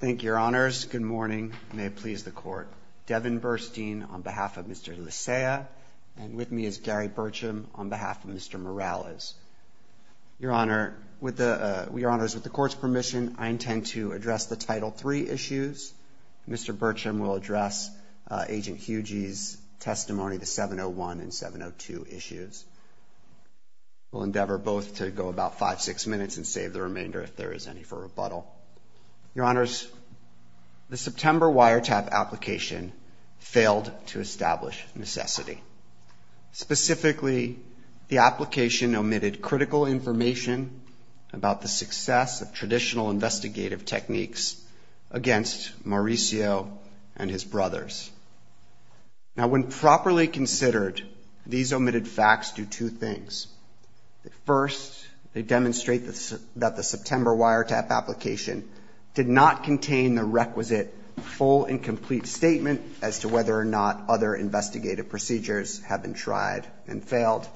Thank you, your honors. Good morning. May it please the court. Devin Burstein on behalf of Mr. Licea, and with me is Gary Burcham on behalf of Mr. Morales. Your honor, with the, with your honors, with the court's permission, I intend to address the Title III issues. Mr. Burcham will address Agent Hugey's testimony, the 701 and 702 issues. We'll endeavor both to go about five, six minutes and save the remainder if there is any for rebuttal. Your honors, the September wiretap application failed to establish necessity. Specifically, the application omitted critical information about the success of traditional investigative techniques against Mauricio and his brothers. Now, when properly considered, these omitted facts do two things. First, they demonstrate that the September wiretap application did not contain the requisite full and complete statement as to whether or not other investigative procedures have been tried and failed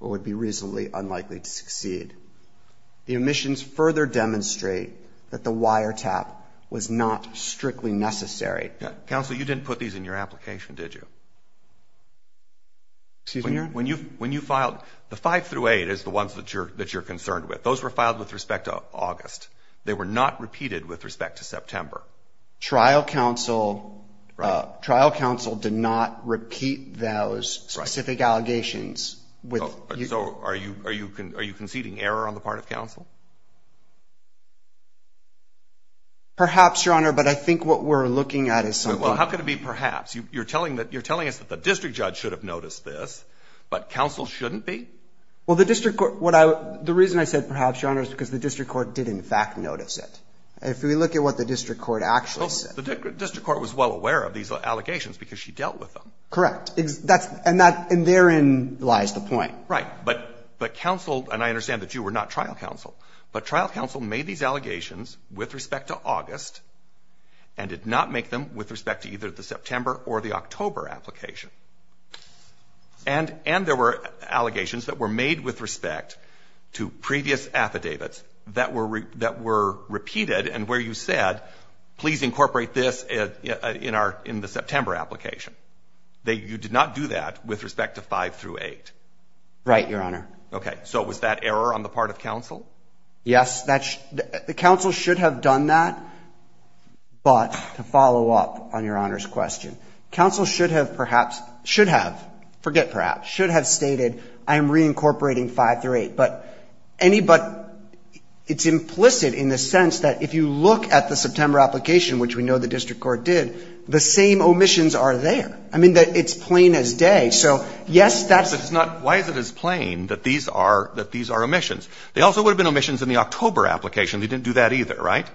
or would be reasonably unlikely to succeed. The omissions further demonstrate that the wiretap was not strictly necessary. Counsel, you didn't put these in your application, did you? Excuse me, your honor? When you filed, the five through eight is the ones that you're concerned with. Those were filed with respect to August. They were not repeated with respect to September. Trial counsel, trial counsel did not repeat those specific allegations with So, are you conceding error on the part of counsel? Perhaps, your honor, but I think what we're looking at is something Well, how could it be perhaps? You're telling us that the district judge should have noticed this, but counsel shouldn't be? Well, the district court, the reason I said perhaps, your honor, is because the district court did, in fact, notice it. If we look at what the district court actually said Well, the district court was well aware of these allegations because she dealt with them. Correct. And therein lies the point. Right. But counsel, and I understand that you were not trial counsel, but trial counsel made these allegations with respect to August and did not make them with respect to either the September or the October application. And there were allegations that were made with respect to previous affidavits that were repeated and where you said, please incorporate this in the September application. You did not do that with respect to five through eight. Right, your honor. Okay. So was that error on the part of counsel? Yes, the counsel should have done that. But to follow up on your honor's question, counsel should have perhaps, should have, forget perhaps, should have stated, I'm reincorporating five through eight. But it's implicit in the sense that if you look at the September application, which we know the district court did, the same omissions are there. I mean, it's plain as day. So yes, that's. But it's not, why is it as plain that these are, that these are omissions? They also would have been omissions in the October application. They didn't do that either, right?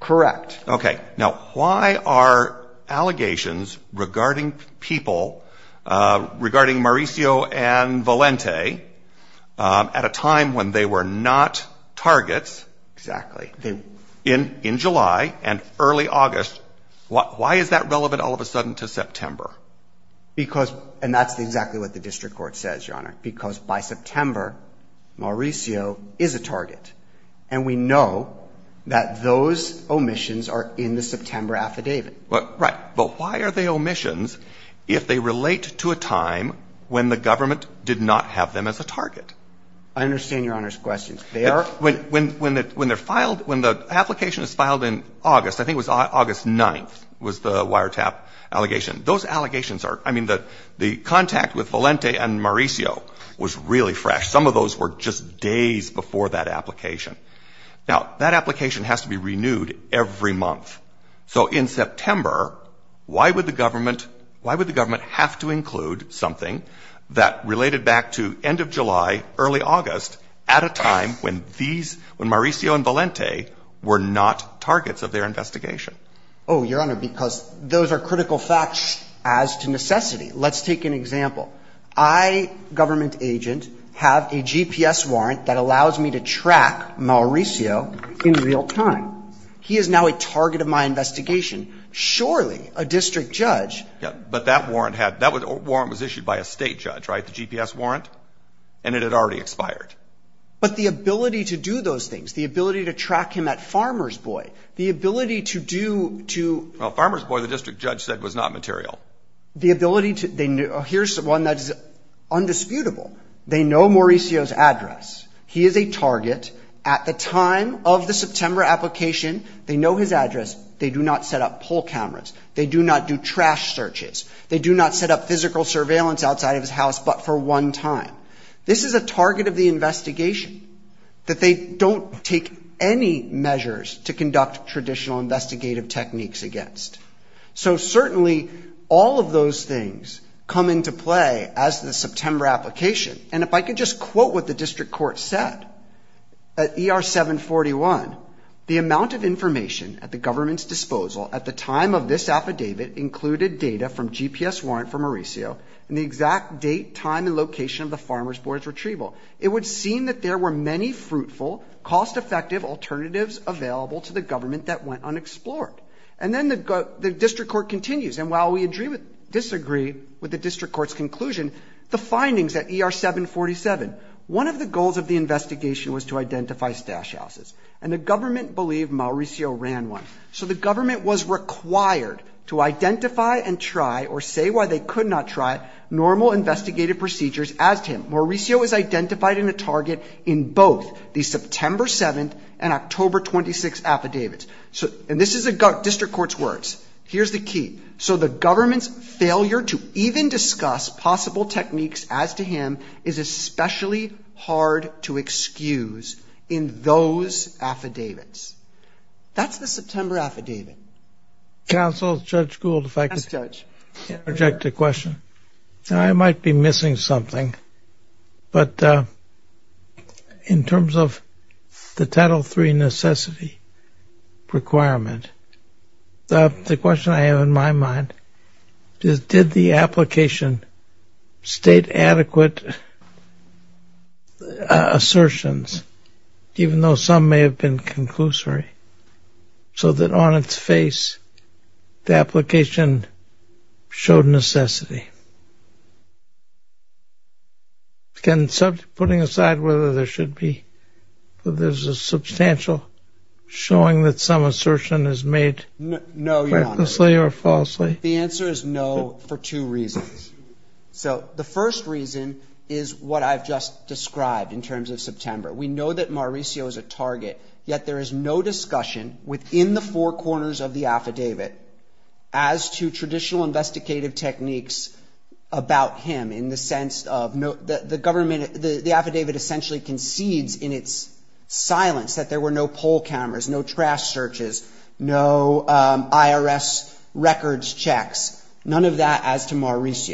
Correct. Okay. Now why are allegations regarding people, regarding Mauricio and Valente at a time when they were not targets. Exactly. In, in July and early August. Why is that relevant all of a sudden to September? Because, and that's exactly what the district court says, your honor. Because by September, Mauricio is a target. And we know that those omissions are in the September affidavit. Right. But why are they omissions if they relate to a time when the government did not have them as a target? I understand your honor's questions. They are. When, when, when they're filed, when the application is filed in August, I think it was August 9th, was the wiretap allegation. Those allegations are, I mean, the, the contact with Valente and Mauricio was really fresh. Some of those were just days before that application. Now that application has to be renewed every month. So in September, why would the government, why would the government have to include something that related back to end of July, early August at a time when these, when Mauricio and Valente were not targets of their investigation? Oh, your honor, because those are critical facts as to necessity. Let's take an example. I, government agent, have a GPS warrant that allows me to track Mauricio in real time. He is now a target of my investigation. Surely a district judge. Yeah. But that warrant had, that warrant was issued by a state judge, right? The GPS warrant. And it had already expired. But the ability to do those things, the ability to track him at Farmer's Boy, the ability to do, to... Well, Farmer's Boy, the district judge said was not material. The ability to, they knew, here's one that is undisputable. They know Mauricio's address. He is a target. At the time of the September application, they know his address. They do not set up poll cameras. They do not do trash searches. They do not set up physical surveillance outside of his house, but for one time. This is a target of the investigation, that they don't take any measures to conduct traditional investigative techniques against. So certainly all of those things come into play as the September application. And if I could just quote what the district court said, at ER 741, the amount of information at the government's disposal at the time of this affidavit included data from GPS warrant for Mauricio and the exact date, time and location of the Farmer's Boy's retrieval. It would seem that there were many fruitful, cost-effective alternatives available to the government that went unexplored. And then the district court continues. And while we agree with, disagree with the district court's conclusion, the findings at ER 747, one of the goals of the investigation was to identify stash houses. And the government believed Mauricio ran one. So the government was required to identify and try or say why they could not try normal investigative procedures as to him. Mauricio was identified in a target in both the September 7th and October 26th affidavits. So, and this is the district court's words. Here's the key. So the government's failure to even discuss possible techniques as to him is especially hard to excuse in those affidavits. That's the September affidavit. Counsel, Judge Gould, if I could interject a question. I might be missing something, but in terms of the Title III necessity requirement, the question I have in my mind is, did the application state adequate assertions, even though some may have been conclusory, so that on its face, the application showed necessity? Can subject, putting aside whether there should be, there's a substantial showing that some assertion is made. No, you're wrong. Flawlessly or falsely? The answer is no, for two reasons. So the first reason is what I've just described in terms of September. We know that Mauricio is a target, yet there is no discussion within the four corners of the affidavit as to traditional investigative techniques about him in the sense of the government, the affidavit essentially concedes in its silence that there were no poll cameras, no trash searches, no IRS records checks, none of that as to his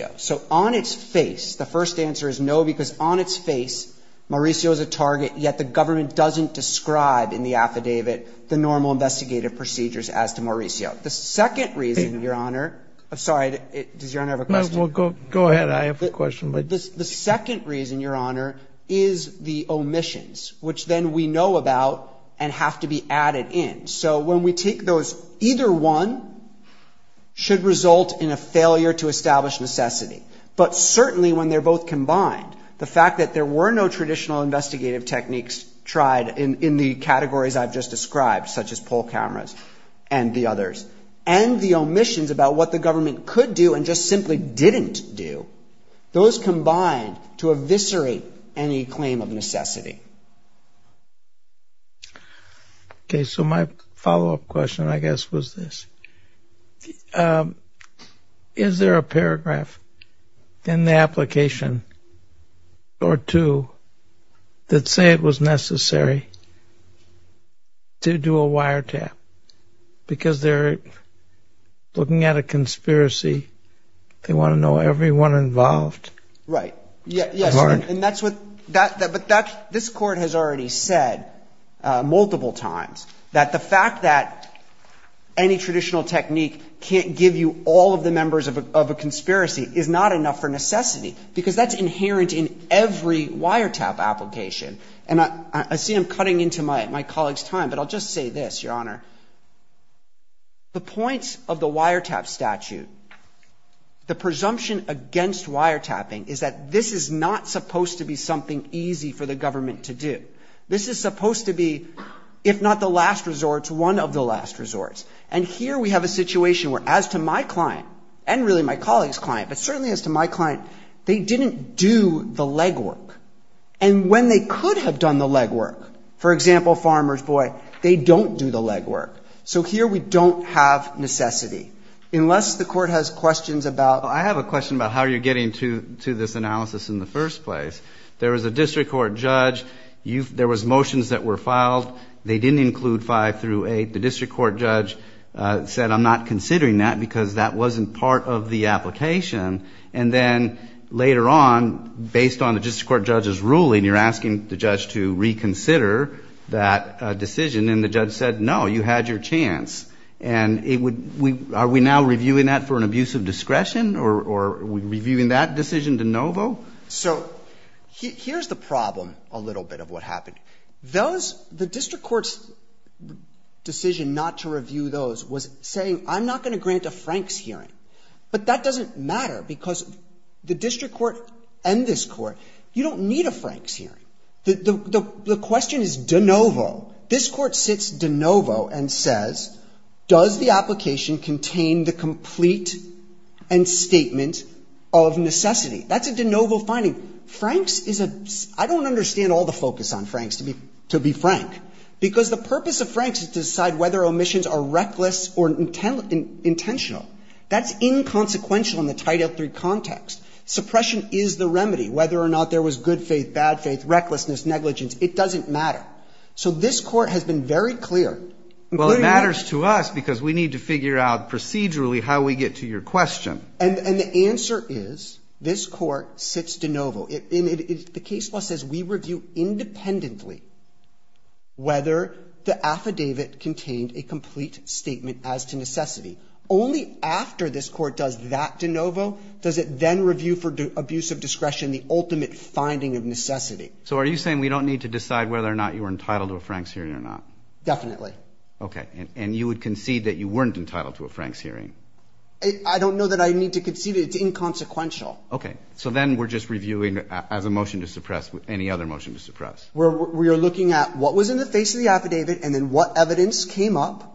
face. Mauricio is a target, yet the government doesn't describe in the affidavit the normal investigative procedures as to Mauricio. The second reason, Your Honor — I'm sorry. Does Your Honor have a question? Go ahead. I have a question. The second reason, Your Honor, is the omissions, which then we know about and have to be added in. So when we take those, either one should result in a failure to establish necessity, but certainly when they're both combined, the fact that there were no traditional investigative techniques tried in the categories I've just described, such as poll cameras and the others, and the omissions about what the government could do and just simply didn't do, those combined to eviscerate any claim of necessity. Okay, so my follow-up question, I guess, was this. Is there a paragraph in the application or two that say it was necessary to do a wiretap? Because they're looking at a conspiracy. They want to know everyone involved. Right. Yes. And that's what — but this Court has already said multiple times that the fact that any traditional technique can't give you all of the members of a conspiracy is not enough for necessity, because that's inherent in every wiretap application. And I see I'm cutting into my colleague's time, but I'll just say this, statute. The presumption against wiretapping is that this is not supposed to be something easy for the government to do. This is supposed to be, if not the last resort, it's one of the last resorts. And here we have a situation where, as to my client, and really my colleague's client, but certainly as to my client, they didn't do the legwork. And when they could have done the legwork, for example, farmers, boy, they don't do the legwork. So here we don't have necessity. Unless the Court has questions about — Well, I have a question about how you're getting to this analysis in the first place. There was a district court judge. There was motions that were filed. They didn't include 5 through 8. The district court judge said, I'm not considering that because that wasn't part of the application. And then later on, based on And the judge said, no, you had your chance. And it would — are we now reviewing that for an abuse of discretion or are we reviewing that decision de novo? So here's the problem, a little bit, of what happened. Those — the district court's decision not to review those was saying, I'm not going to grant a Franks hearing. But that doesn't matter because the district court and this Court, you don't need a Franks hearing. The question is de novo. This Court sits de novo and says, does the application contain the complete and statement of necessity? That's a de novo finding. Franks is a — I don't understand all the focus on Franks, to be frank, because the purpose of Franks is to decide whether omissions are reckless or intentional. That's inconsequential in the Title III context. Suppression is the remedy. Whether or not there was good faith, bad faith, recklessness, negligence, it doesn't matter. So this Court has been very clear. Well, it matters to us because we need to figure out procedurally how we get to your question. And the answer is, this Court sits de novo. The case law says we review independently whether the affidavit contained a complete statement as to necessity. Only after this Court does that de novo does it then review for abuse of discretion the ultimate finding of necessity. So are you saying we don't need to decide whether or not you were entitled to a Franks hearing or not? Definitely. Okay. And you would concede that you weren't entitled to a Franks hearing? I don't know that I need to concede it. It's inconsequential. Okay. So then we're just reviewing as a motion to suppress, any other motion to suppress? We are looking at what was in the face of the affidavit and then what evidence came up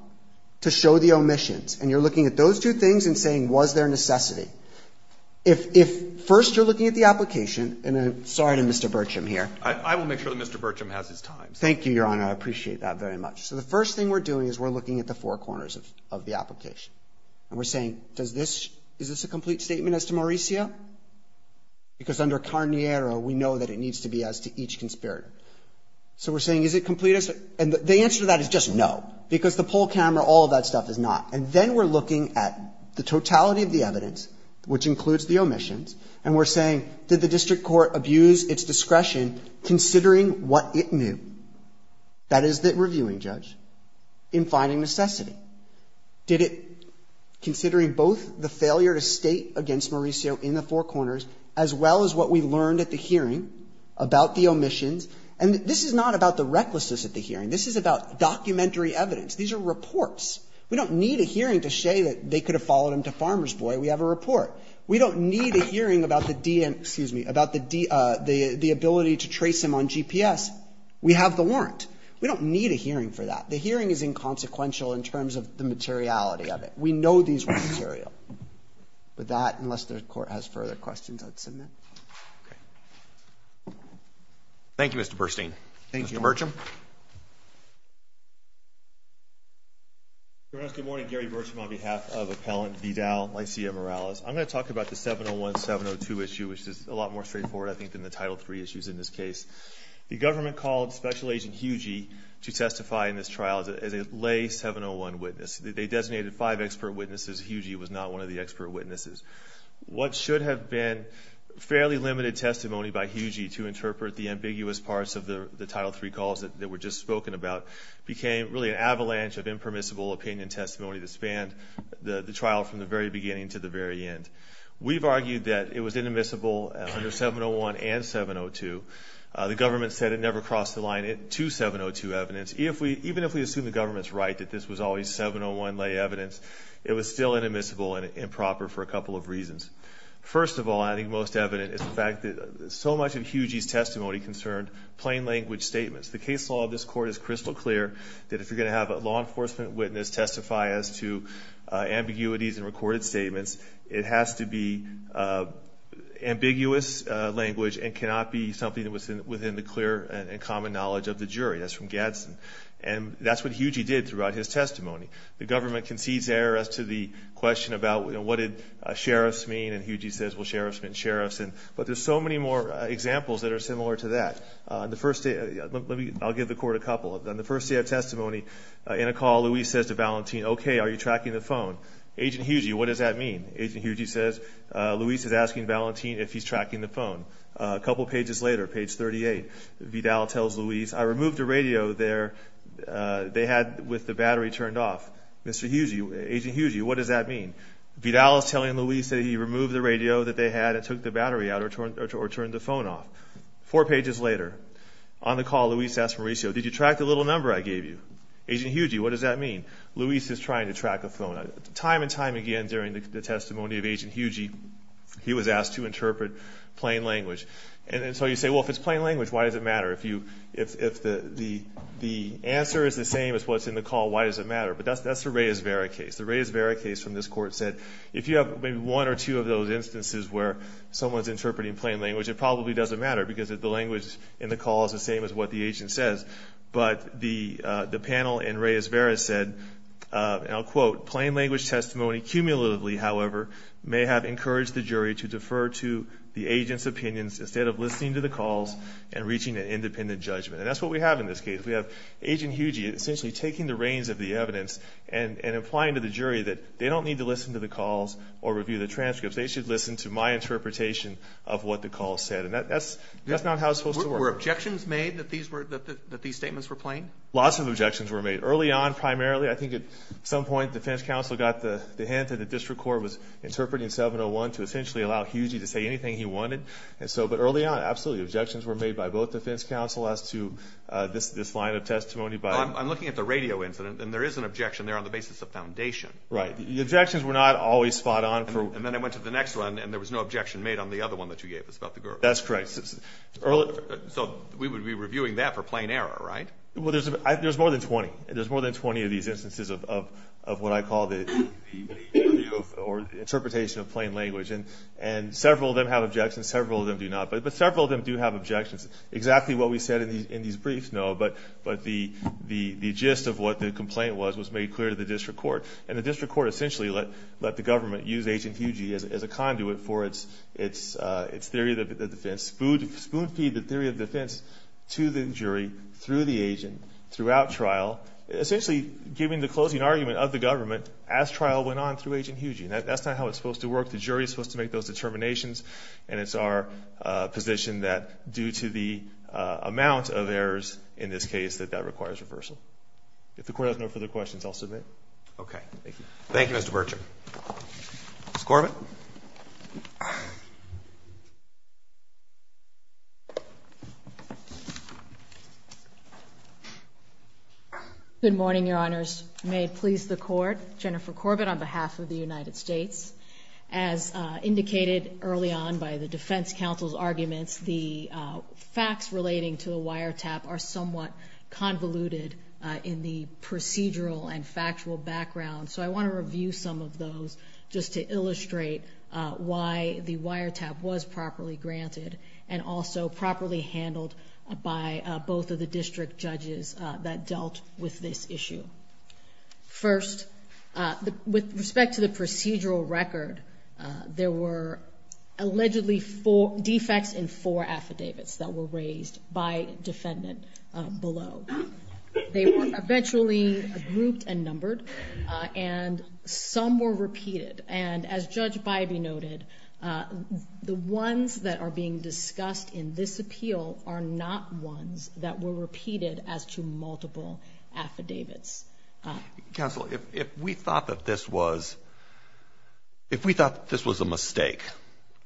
to show the omissions. And you're looking at those two things and saying, was there necessity? If first you're looking at the application, and I'm sorry to Mr. Burcham here. I will make sure that Mr. Burcham has his time. Thank you, Your Honor. I appreciate that very much. So the first thing we're doing is we're looking at the four corners of the application. And we're saying, does this – is this a complete statement as to Mauricio? Because under Carniero, we know that it needs to be as to each conspirator. So we're saying, is it complete? And the answer to that is just no, because the poll camera, all of that stuff is not. And then we're looking at the totality of the evidence, which includes the omissions, and we're saying, did the district court abuse its discretion considering what it knew, that is, the reviewing judge, in finding necessity? Did it, considering both the failure to state against Mauricio in the four corners, as well as what we learned at the hearing about the omissions? And this is not about the recklessness at the hearing. This is about documentary evidence. These are reports. We don't need a hearing to say that they could have followed him to Farmer's Boy. We have a report. We don't need a hearing about the DN – excuse me, about the ability to trace him on GPS. We have the warrant. We don't need a hearing for that. The hearing is inconsequential in terms of the materiality of it. We know these were material. With that, unless the Court has further questions, I'd submit. Okay. Thank you, Mr. Burstein. Thank you. Mr. Burcham. Your Honor, good morning. Gary Burcham on behalf of Appellant Vidal Lycia Morales. I'm going to talk about the 701-702 issue, which is a lot more straightforward, I think, than the Title III issues in this case. The government called Special Agent Hugey to testify in this trial as a lay 701 witness. They designated five expert witnesses. Hugey was not one of the expert witnesses. What should have been fairly limited testimony by Hugey to interpret the ambiguous parts of the Title III calls that were just spoken about became really an avalanche of impermissible opinion testimony that spanned the trial from the very beginning to the very end. We've argued that it was inadmissible under 701 and 702. The government said it never crossed the line to 702 evidence. Even if we assume the government's right that this was always 701 lay evidence, it was still inadmissible and improper for a couple of reasons. First of all, I think most evident is the fact that so much of Hugey's testimony concerned plain language statements. The case law of this court is crystal clear that if you're going to have a law enforcement witness testify as to ambiguities in recorded statements, it has to be ambiguous language and cannot be something that was within the clear and common knowledge of the jury. That's from what Hugey did throughout his testimony. The government concedes error as to the question about what did sheriffs mean, and Hugey says, well, sheriffs mean sheriffs. But there's so many more examples that are similar to that. I'll give the court a couple. On the first day of testimony, in a call, Luis says to Valentin, okay, are you tracking the phone? Agent Hugey, what does that mean? Agent Hugey says, Luis is asking Valentin if he's tracking the phone. A couple pages later, page 38, Vidal tells Luis, I removed the radio there they had with the battery turned off. Agent Hugey, what does that mean? Vidal is telling Luis that he removed the radio that they had and took the battery out or turned the phone off. Four pages later, on the call, Luis asks Mauricio, did you track the little number I gave you? Agent Hugey, what does that mean? Luis is trying to track the phone. Time and time again during the testimony of Agent Hugey, he was asked to interpret plain language. And so you say, well, if it's plain language, why does it matter? The answer is the same as what's in the call, why does it matter? But that's the Reyes-Vera case. The Reyes-Vera case from this court said, if you have maybe one or two of those instances where someone's interpreting plain language, it probably doesn't matter because the language in the call is the same as what the agent says. But the panel in Reyes-Vera said, and I'll quote, plain language testimony cumulatively, however, may have encouraged the jury to defer to the agent's opinions instead of listening to the calls and reaching an independent judgment. And that's what we have in this case. We have Agent Hugey essentially taking the reins of the evidence and implying to the jury that they don't need to listen to the calls or review the transcripts. They should listen to my interpretation of what the call said. And that's not how it's supposed to work. Were objections made that these statements were plain? Lots of objections were made. Early on, primarily, I think at some point the defense counsel got the hint that the district court was interpreting 701 to essentially allow Hugey to say anything he wanted. And so, but early on, absolutely, objections were made by both defense counsel as to this line of testimony. I'm looking at the radio incident, and there is an objection there on the basis of foundation. Right. The objections were not always spot on. And then I went to the next one, and there was no objection made on the other one that you gave us about the girl. That's correct. So we would be reviewing that for plain error, right? Well, there's more than 20. There's more than 20 of these instances of what I call the interpretation of plain language. And several of them have objections. Several of them do not. But several of them do have objections. Exactly what we said in these briefs, no. But the gist of what the complaint was was made clear to the district court. And the district court essentially let the government use Agent Hugey as a conduit for its theory of the defense, spoon feed the theory of defense to the jury through the agent throughout trial, essentially giving the closing argument of the government as trial went on through Agent Hugey. And that's not how it's supposed to work. The jury is supposed to make those determinations. And it's our position that due to the amount of errors in this case, that that requires reversal. If the Court has no further questions, I'll submit. Okay. Thank you. Thank you, Mr. Berger. Ms. Corbett? Good morning, Your Honors. May it please the Court, Jennifer Corbett on behalf of the United States. As indicated early on by the defense counsel's arguments, the facts relating to the wiretap are somewhat convoluted in the procedural and factual background. So I want to review some of those just to illustrate why the wiretap was properly granted and also properly handled by both of the district judges that dealt with this issue. First, with respect to the procedural record, there were allegedly four defects in four affidavits that were raised by defendant below. They were eventually grouped and numbered, and some were repeated. And as Judge Bybee noted, the ones that are being discussed in this appeal are not ones that were repeated as to multiple affidavits. Counsel, if we thought that this was, if we thought this was a mistake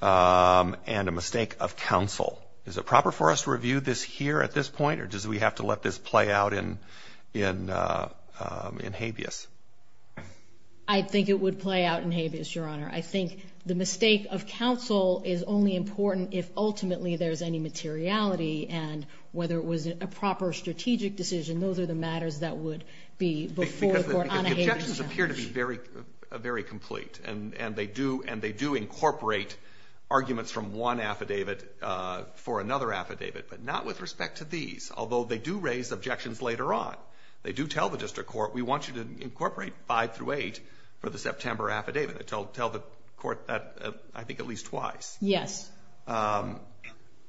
and a mistake of counsel, is it proper for us to review this here at this point, or does we have to let this play out in habeas? I think it would play out in habeas, Your Honor. I think the mistake of counsel is only important if ultimately there's any materiality, and whether it was a proper strategic decision, those are the matters that would be before the Court on a habeas basis. Because the objections appear to be very, very complete, and they do incorporate arguments from one affidavit for another affidavit, but not with these objections later on. They do tell the district court, we want you to incorporate 5 through 8 for the September affidavit. They tell the court that, I think, at least twice. Yes.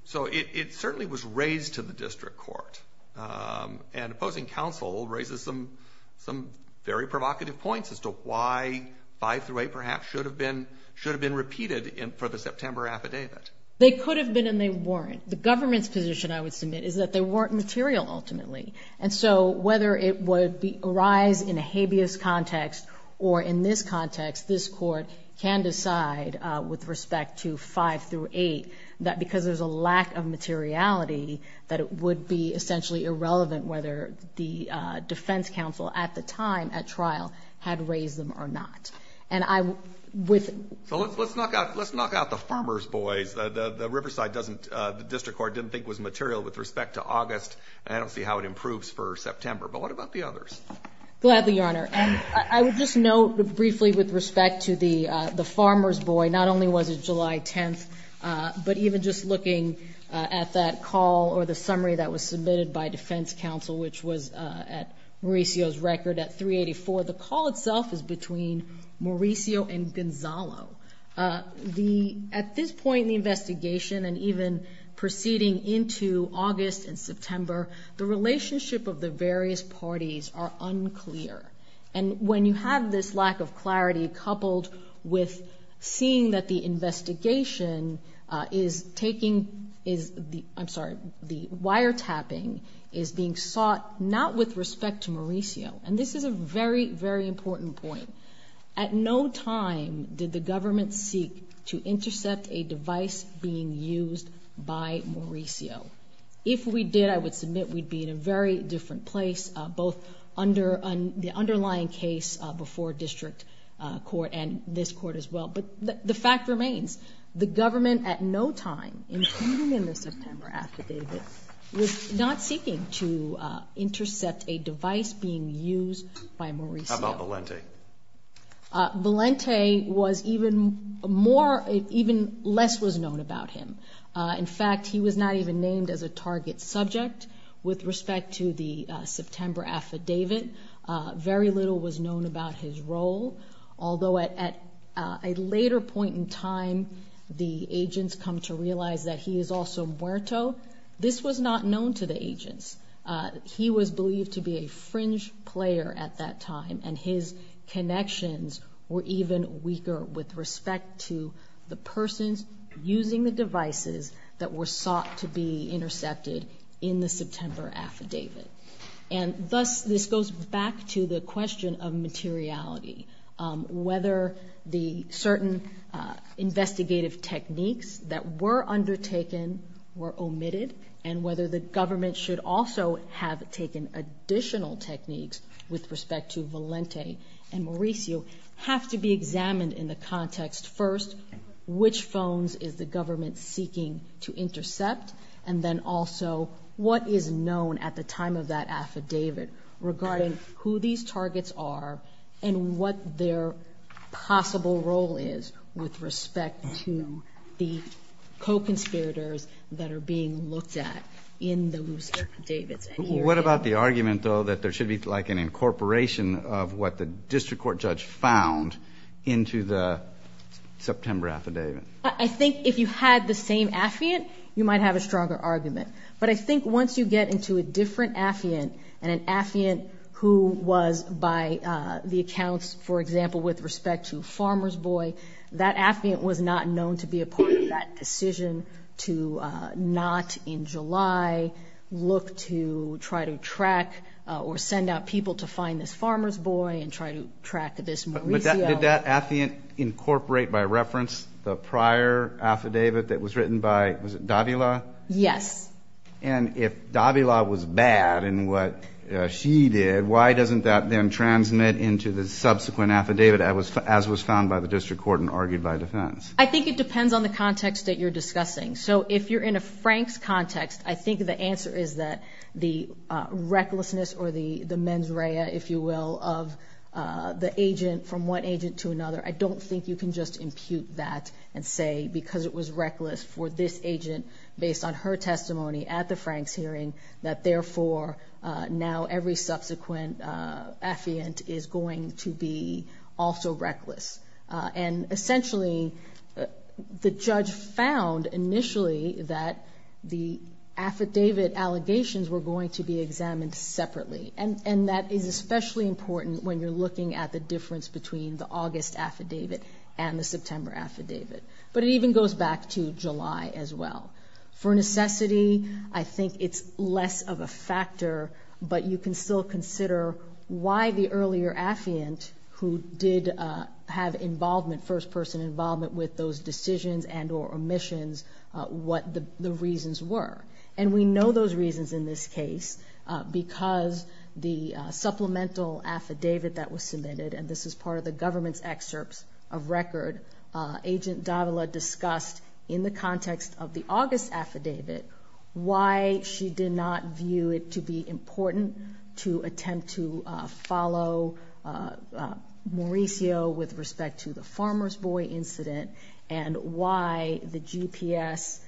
So it certainly was raised to the district court, and opposing counsel raises some very provocative points as to why 5 through 8, perhaps, should have been repeated for the September affidavit. They could have been, and they weren't. The government's position, I would submit, is that they weren't material, ultimately. And so whether it would arise in a habeas context or in this context, this Court can decide, with respect to 5 through 8, that because there's a lack of materiality, that it would be essentially irrelevant whether the defense counsel at the time, at trial, had raised them or not. And I, with respect to August, I don't see how it improves for September. But what about the others? Gladly, Your Honor. And I would just note, briefly, with respect to the farmer's boy, not only was it July 10th, but even just looking at that call, or the summary that was submitted by defense counsel, which was at Mauricio's record at 384, the call itself is between Mauricio and Gonzalo. The, at this point in the investigation, and even proceeding into August and September, the relationship of the various parties are unclear. And when you have this lack of clarity coupled with seeing that the investigation is taking, is the, I'm sorry, the wiretapping is being sought not with respect to Mauricio. And this is a very, very important point. At no time did the government seek to intercept a device being used by Mauricio. If we did, I would submit, we'd be in a very The fact remains, the government, at no time, including in the September affidavit, was not seeking to intercept a device being used by Mauricio. How about Valente? Valente was even more, even less was known about him. In fact, he was not even named as a target subject with respect to the September affidavit. Very little was known about his role. Although at a later point in time, the agents come to realize that he is also muerto, this was not known to the agents. He was believed to be a fringe player at that time, and his connections were even weaker with respect to the persons using the devices that were sought to be of materiality. Whether the certain investigative techniques that were undertaken were omitted, and whether the government should also have taken additional techniques with respect to Valente and Mauricio, have to be examined in the context, first, which phones is the government seeking to intercept? And then also, what is known at the time of that affidavit regarding who these targets are, and what their possible role is with respect to the co-conspirators that are being looked at in those affidavits? What about the argument, though, that there should be like an incorporation of what the district court judge found into the September affidavit? I think if you had the same affiant, you might have a stronger argument. But I think once you get into a different affiant, and an affiant who was by the accounts, for example, with respect to Farmer's Boy, that affiant was not known to be a part of that decision to not, in July, look to try to track or send out people to find this Farmer's Boy and try to track this Mauricio. Did that affiant incorporate, by reference, the prior affidavit that was written by, was it Davila? Yes. And if Davila was bad in what she did, why doesn't that then transmit into the subsequent affidavit, as was found by the district court and argued by defense? I think it depends on the context that you're discussing. So if you're in a Frank's context, I think the answer is that the recklessness or the mens rea, if you will, of the agent, from one agent to another, I don't think you can just impute that and say because it was reckless for this agent, based on her testimony at the Frank's hearing, that therefore, now every subsequent affiant is going to be also reckless. And essentially, the judge found initially that the affidavit allegations were going to be examined separately. And that is especially important when you're looking at the difference between the August affidavit and the September affidavit. But it even goes back to July as well. For necessity, I think it's less of a factor, but you can still consider why the earlier affiant, who did have involvement, first-person involvement with those decisions and or omissions, what the reasons were. And we know those reasons in this case because the supplemental affidavit that was submitted, and this is part of the government's excerpts of record, Agent Davila discussed in the context of the August affidavit why she did not view it to be important to attempt to follow Mauricio with respect to the Farmer's Boy incident, and why the GPS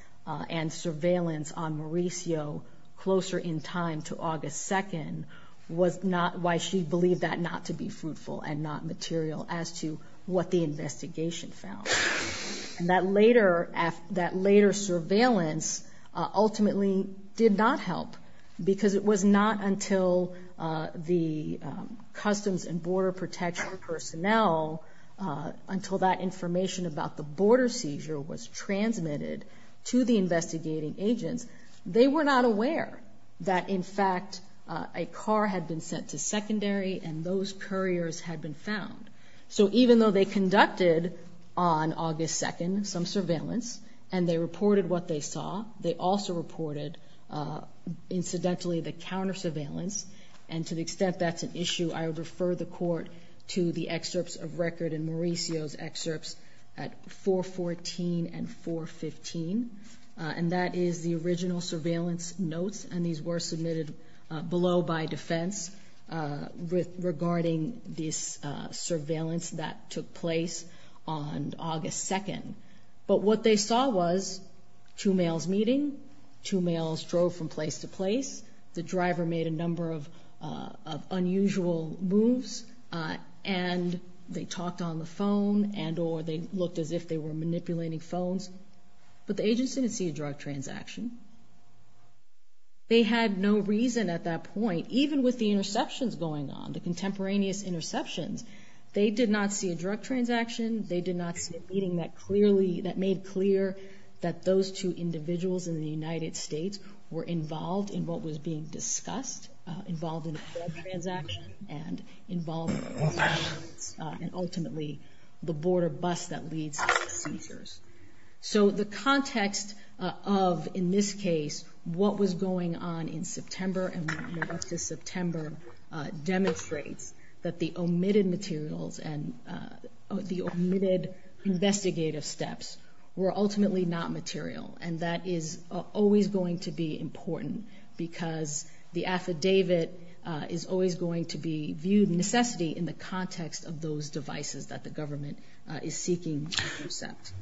and surveillance on Mauricio closer in time to August 2nd was not, why she believed that not to be fruitful and not material as to what the investigation found. And that later surveillance ultimately did not help because it was not until the Customs and Border Protection personnel, until that information about the border seizure was transmitted to the investigating agents, they were not aware that in fact a car had been sent to secondary and those couriers had been found. So even though they conducted on August 2nd some surveillance and they reported what they saw, they also reported incidentally the counter surveillance, and to the extent that's an issue, I would refer the court to the excerpts of record and Mauricio's excerpts at 414 and 415. And that is the original surveillance notes, and these were submitted below by defense regarding this surveillance that took place on August 2nd. But what they saw was two males meeting, two males drove from place to place, the driver made a number of unusual moves, and they talked on the phone and or they looked as if they were manipulating phones, but the agents didn't see a drug transaction. They had no reason at that point, even with the interceptions going on, the contemporaneous interceptions, they did not see a drug transaction, they did not see a meeting that clearly, that made clear that those two individuals in the United States were involved in what was being discussed, involved in a drug transaction, and involved in surveillance, and ultimately the border bust that leads to the seizures. So the context of, in this case, what was going on in September and what went on in September demonstrates that the omitted materials and the omitted investigative steps were ultimately not material, and that is always going to be important because the affidavit is always going to be viewed in necessity in the context of those devices that the government is seeking to intercept.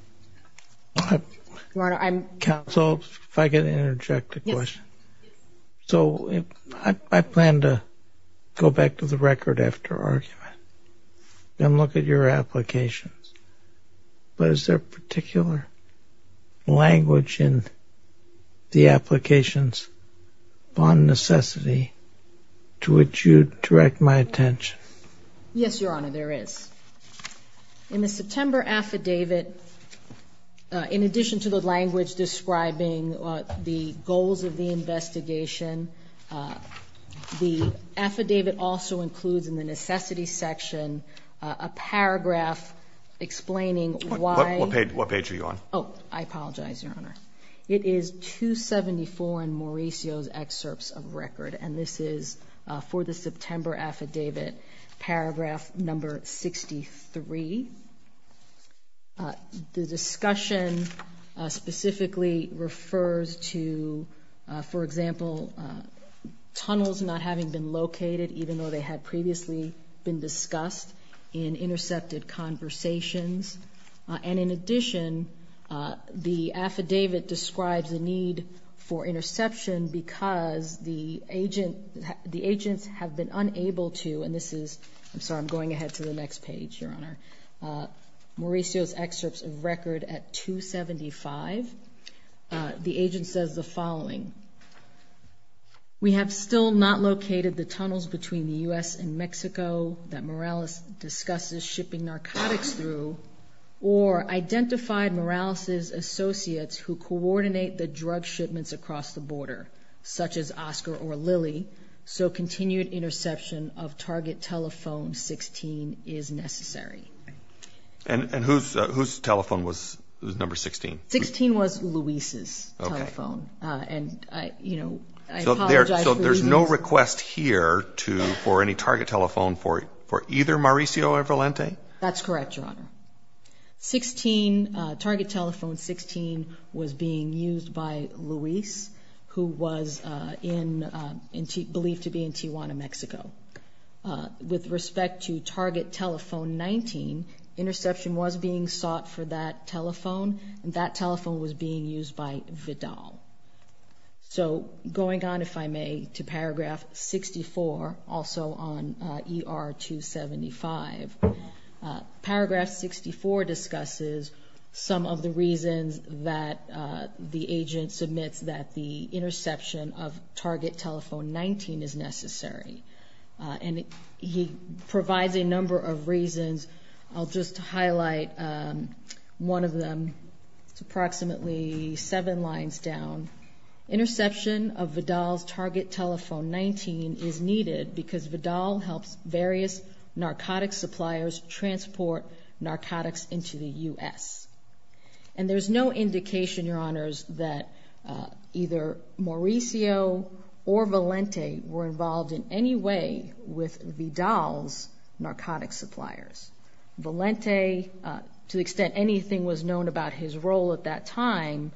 Your Honor, I'm... Counsel, if I could interject a question. Yes. So I plan to go back to the record after argument and look at your applications, but is there a particular language in the applications upon necessity to which you direct my attention? Yes, Your Honor, there is. In the September affidavit, in addition to the language describing the goals of the investigation, the affidavit also includes in the necessity section a paragraph explaining why... What page are you on? Oh, I apologize, Your Honor. It is 274 in Mauricio's excerpts of record, and this is for the September affidavit, paragraph number 63. The discussion specifically refers to, for example, tunnels not having been located even though they had previously been discussed in intercepted conversations. And in addition, the affidavit describes the need for interception because the agents have been unable to... And this is... I'm sorry, I'm going ahead to the next page, Your Honor. Mauricio's excerpts of record at 275. The agent says the following. We have still not located the tunnels between the U.S. and Mexico that Morales discusses shipping narcotics through or identified Morales's associates who coordinate the drug shipments across the border, such as Oscar or Lily, so continued interception of target telephone 16 is necessary. And whose telephone was number 16? 16 was Luis's telephone. Okay. And, you know, I apologize for... So there's no request here for any target telephone for either Mauricio or Valente? That's correct, Your Honor. 16, target telephone 16 was being used by Luis, who was believed to be in Tijuana, Mexico. With respect to target telephone 19, interception was being sought for that telephone, and that telephone was being used by Vidal. So going on, if I may, to paragraph 64, also on ER 275. Paragraph 64 discusses some of the reasons that the agent submits that the interception of target telephone 19 is necessary. And he provides a number of reasons. I'll just highlight one of them. It's approximately seven lines down. Interception of Vidal's target telephone 19 is needed because Vidal helps various narcotics suppliers transport narcotics into the U.S. And there's no indication, Your Honors, that either Mauricio or Valente were involved in any way with Vidal's narcotics suppliers. Valente, to the extent anything was known about his role at that time,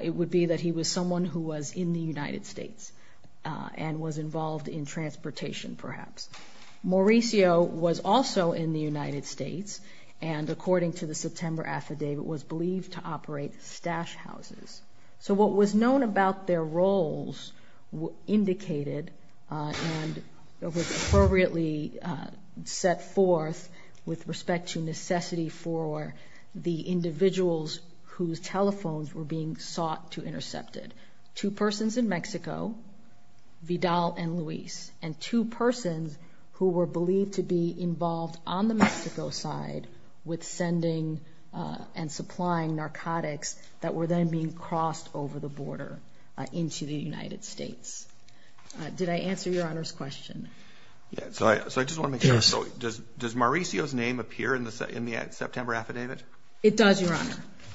it would be that he was someone who was in the United States and was involved in transportation, perhaps. Mauricio was also in the United States and, according to the September affidavit, was believed to operate stash houses. So what was known about their roles indicated and was appropriately set forth with respect to necessity for the individuals whose telephones were being sought to intercept it. Two persons in Mexico, Vidal and Luis, and two persons who were believed to be involved on the Mexico side with sending and supplying narcotics that were then being crossed over the border into the United States. Did I answer Your Honor's question? Yes. So I just want to make sure. Does Mauricio's name appear in the September affidavit? It does, Your Honor.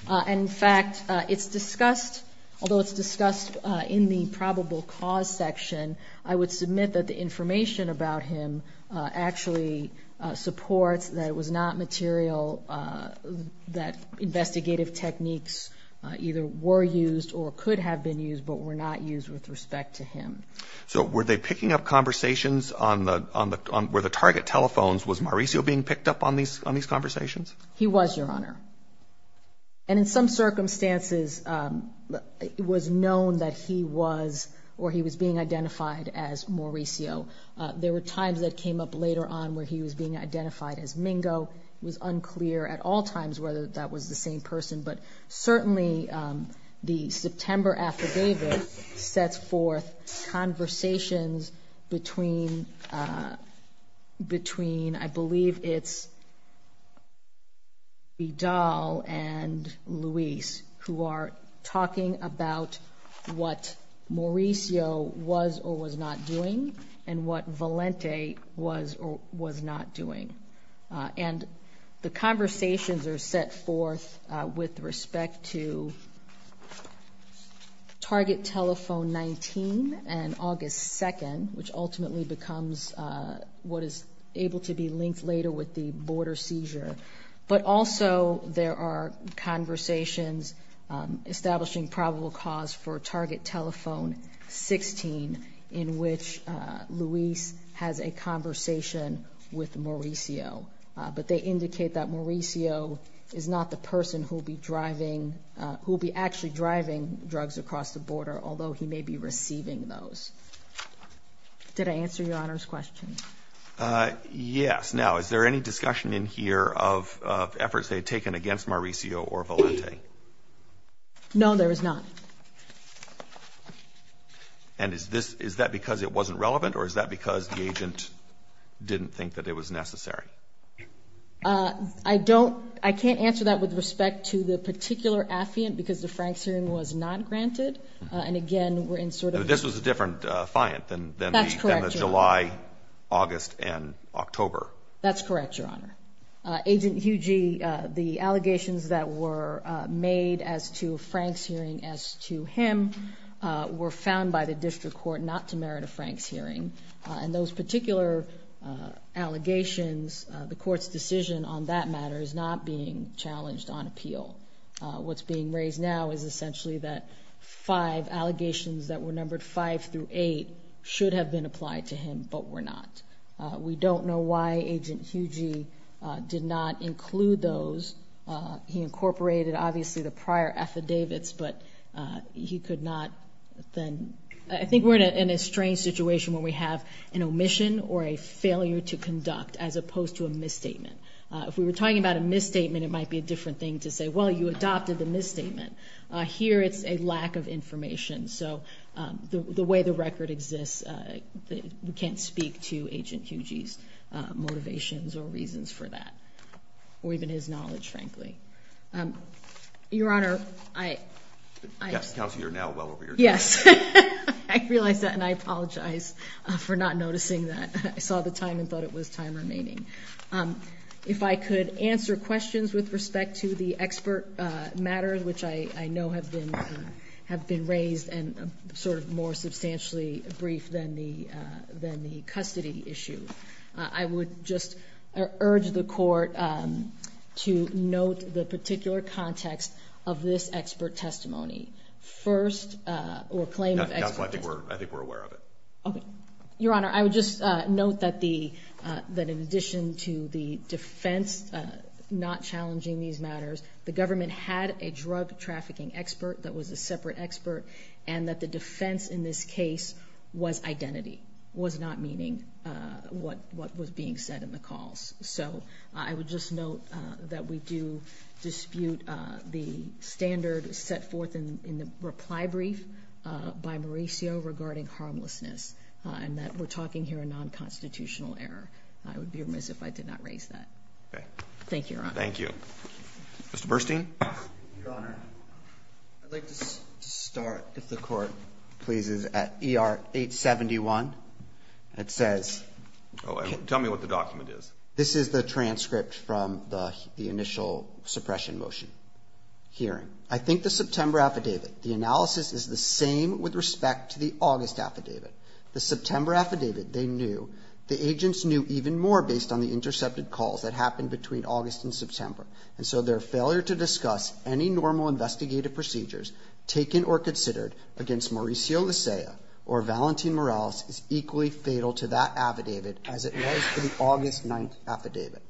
And, in fact, it's discussed, although it's discussed in the probable cause section, I would submit that the information about him actually supports that it was not material that investigative techniques either were used or could have been used but were not used with respect to him. So were they picking up conversations on the, where the target telephones, was Mauricio being picked up on these conversations? He was, Your Honor. And, in some circumstances, it was known that he was or he was being identified as Mauricio. There were times that came up later on where he was being identified as Mingo. It was unclear at all times whether that was the same person. But certainly the September affidavit sets forth conversations between, I believe it's Vidal and Luis who are talking about what Mauricio was or was not doing and what Valente was or was not doing. And the conversations are set forth with respect to target telephone 19 and August 2nd, which ultimately becomes what is able to be linked later with the border seizure. But also there are conversations establishing probable cause for target telephone 16 in which Luis has a conversation with Mauricio. But they indicate that Mauricio is not the person who will be driving, who will be actually driving drugs across the border, although he may be receiving those. Did I answer Your Honor's question? Yes. Now, is there any discussion in here of efforts they had taken against Mauricio or Valente? No, there is not. And is that because it wasn't relevant or is that because the agent didn't think that it was necessary? I don't – I can't answer that with respect to the particular affiant because the Franks hearing was not granted. And, again, we're in sort of – This was a different fiant than the July – August and October. That's correct, Your Honor. Agent Huge, the allegations that were made as to Frank's hearing as to him were found by the district court not to merit a Franks hearing. And those particular allegations, the court's decision on that matter is not being challenged on appeal. What's being raised now is essentially that five allegations that were numbered five through eight should have been applied to him, but were not. We don't know why Agent Huge did not include those. He incorporated, obviously, the prior affidavits, but he could not then – I think we're in a strange situation where we have an omission or a failure to conduct as opposed to a misstatement. If we were talking about a misstatement, it might be a different thing to say, well, you adopted the misstatement. Here it's a lack of information. So the way the record exists, we can't speak to Agent Huge's motivations or reasons for that, or even his knowledge, frankly. Your Honor, I – Counsel, you're now well over your time. Yes. I realize that, and I apologize for not noticing that. I saw the time and thought it was time remaining. If I could answer questions with respect to the expert matter, which I know have been raised and sort of more substantially brief than the custody issue. I would just urge the Court to note the particular context of this expert testimony. First – or claim of expert testimony. Counsel, I think we're aware of it. Okay. Your Honor, I would just note that the – that in addition to the defense not challenging these matters, the government had a drug trafficking expert that was a separate expert and that the defense in this case was identity, was not meaning what was being said in the calls. So I would just note that we do dispute the standard set forth in the reply brief by Mauricio regarding harmlessness, and that we're talking here a non-constitutional error. I would be remiss if I did not raise that. Okay. Thank you, Your Honor. Thank you. Mr. Burstein? Your Honor, I'd like to start, if the Court pleases, at ER 871. It says – Tell me what the document is. This is the transcript from the initial suppression motion hearing. I think the September affidavit, the analysis is the same with respect to the August affidavit. The September affidavit, they knew. The agents knew even more based on the intercepted calls that happened between August and September. And so their failure to discuss any normal investigative procedures taken or considered against Mauricio Licea or Valentin Morales is equally fatal to that affidavit as it was to the August 9th affidavit.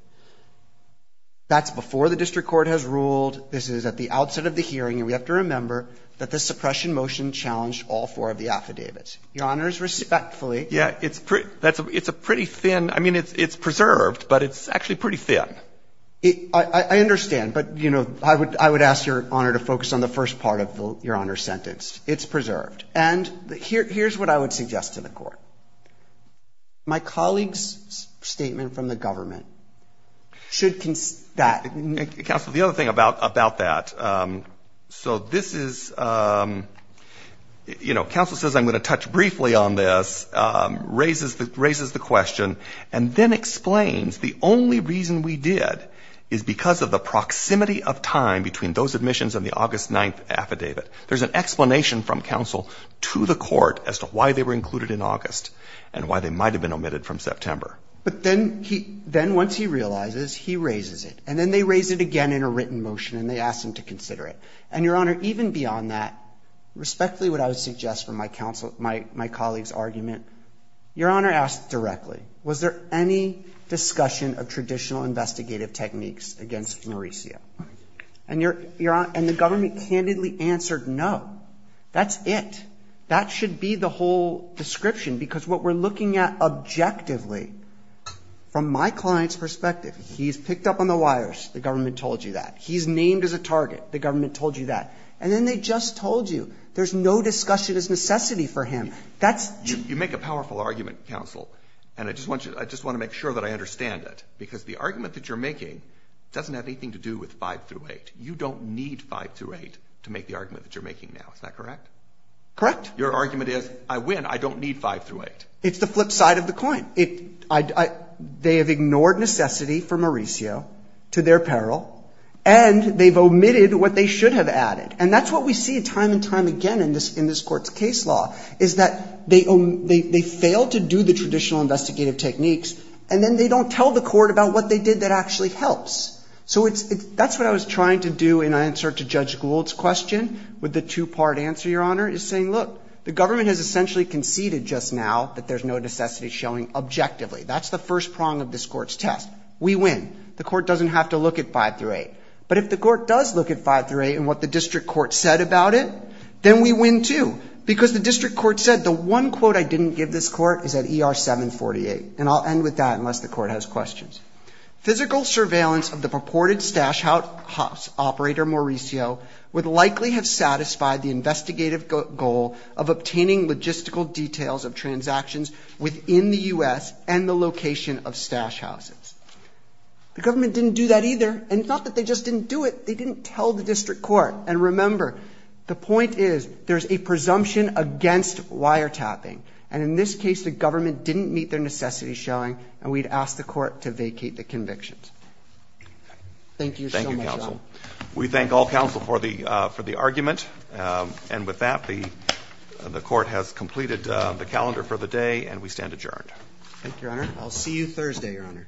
That's before the district court has ruled. This is at the outset of the hearing. And we have to remember that the suppression motion challenged all four of the affidavits. Your Honor is respectfully – Yeah, it's a pretty thin – I mean, it's preserved, but it's actually pretty thin. I understand. But, you know, I would ask Your Honor to focus on the first part of Your Honor's sentence. It's preserved. And here's what I would suggest to the Court. My colleague's statement from the government should – Counsel, the other thing about that. So this is – you know, counsel says I'm going to touch briefly on this, raises the question, and then explains the only reason we did is because of the proximity of time between those admissions and the August 9th affidavit. There's an explanation from counsel to the court as to why they were included in August and why they might have been omitted from September. But then once he realizes, he raises it. And then they raise it again in a written motion, and they ask him to consider it. And, Your Honor, even beyond that, respectfully what I would suggest from my colleague's argument, Your Honor asked directly, was there any discussion of traditional investigative techniques against Mauricio? And Your Honor – and the government candidly answered no. That's it. That should be the whole description, because what we're looking at objectively from my client's perspective, he's picked up on the wires. The government told you that. He's named as a target. The government told you that. And then they just told you. There's no discussion as necessity for him. You make a powerful argument, counsel, and I just want to make sure that I understand it, because the argument that you're making doesn't have anything to do with 5-8. You don't need 5-8 to make the argument that you're making now. Is that correct? Correct. Your argument is, I win. I don't need 5-8. It's the flip side of the coin. They have ignored necessity for Mauricio to their peril, and they've omitted what they should have added. And that's what we see time and time again in this Court's case law, is that they fail to do the traditional investigative techniques, and then they don't tell the Court about what they did that actually helps. So that's what I was trying to do in answer to Judge Gould's question with the two-part answer, Your Honor, is saying, look, the government has essentially conceded just now that there's no necessity showing objectively. That's the first prong of this Court's test. We win. The Court doesn't have to look at 5-8. But if the Court does look at 5-8 and what the district court said about it, then we win, too, because the district court said the one quote I didn't give this Court is at ER 748, and I'll end with that unless the Court has questions. Physical surveillance of the purported stash house operator Mauricio would likely have satisfied the investigative goal of obtaining logistical details of transactions within the U.S. and the location of stash houses. The government didn't do that either, and it's not that they just didn't do it. They didn't tell the district court. And remember, the point is there's a presumption against wiretapping. And in this case, the government didn't meet their necessity showing, and we'd ask the Court to vacate the convictions. Thank you so much, Your Honor. Thank you, counsel. We thank all counsel for the argument. And with that, the Court has completed the calendar for the day, and we stand adjourned. Thank you, Your Honor. I'll see you Thursday, Your Honor. Okay.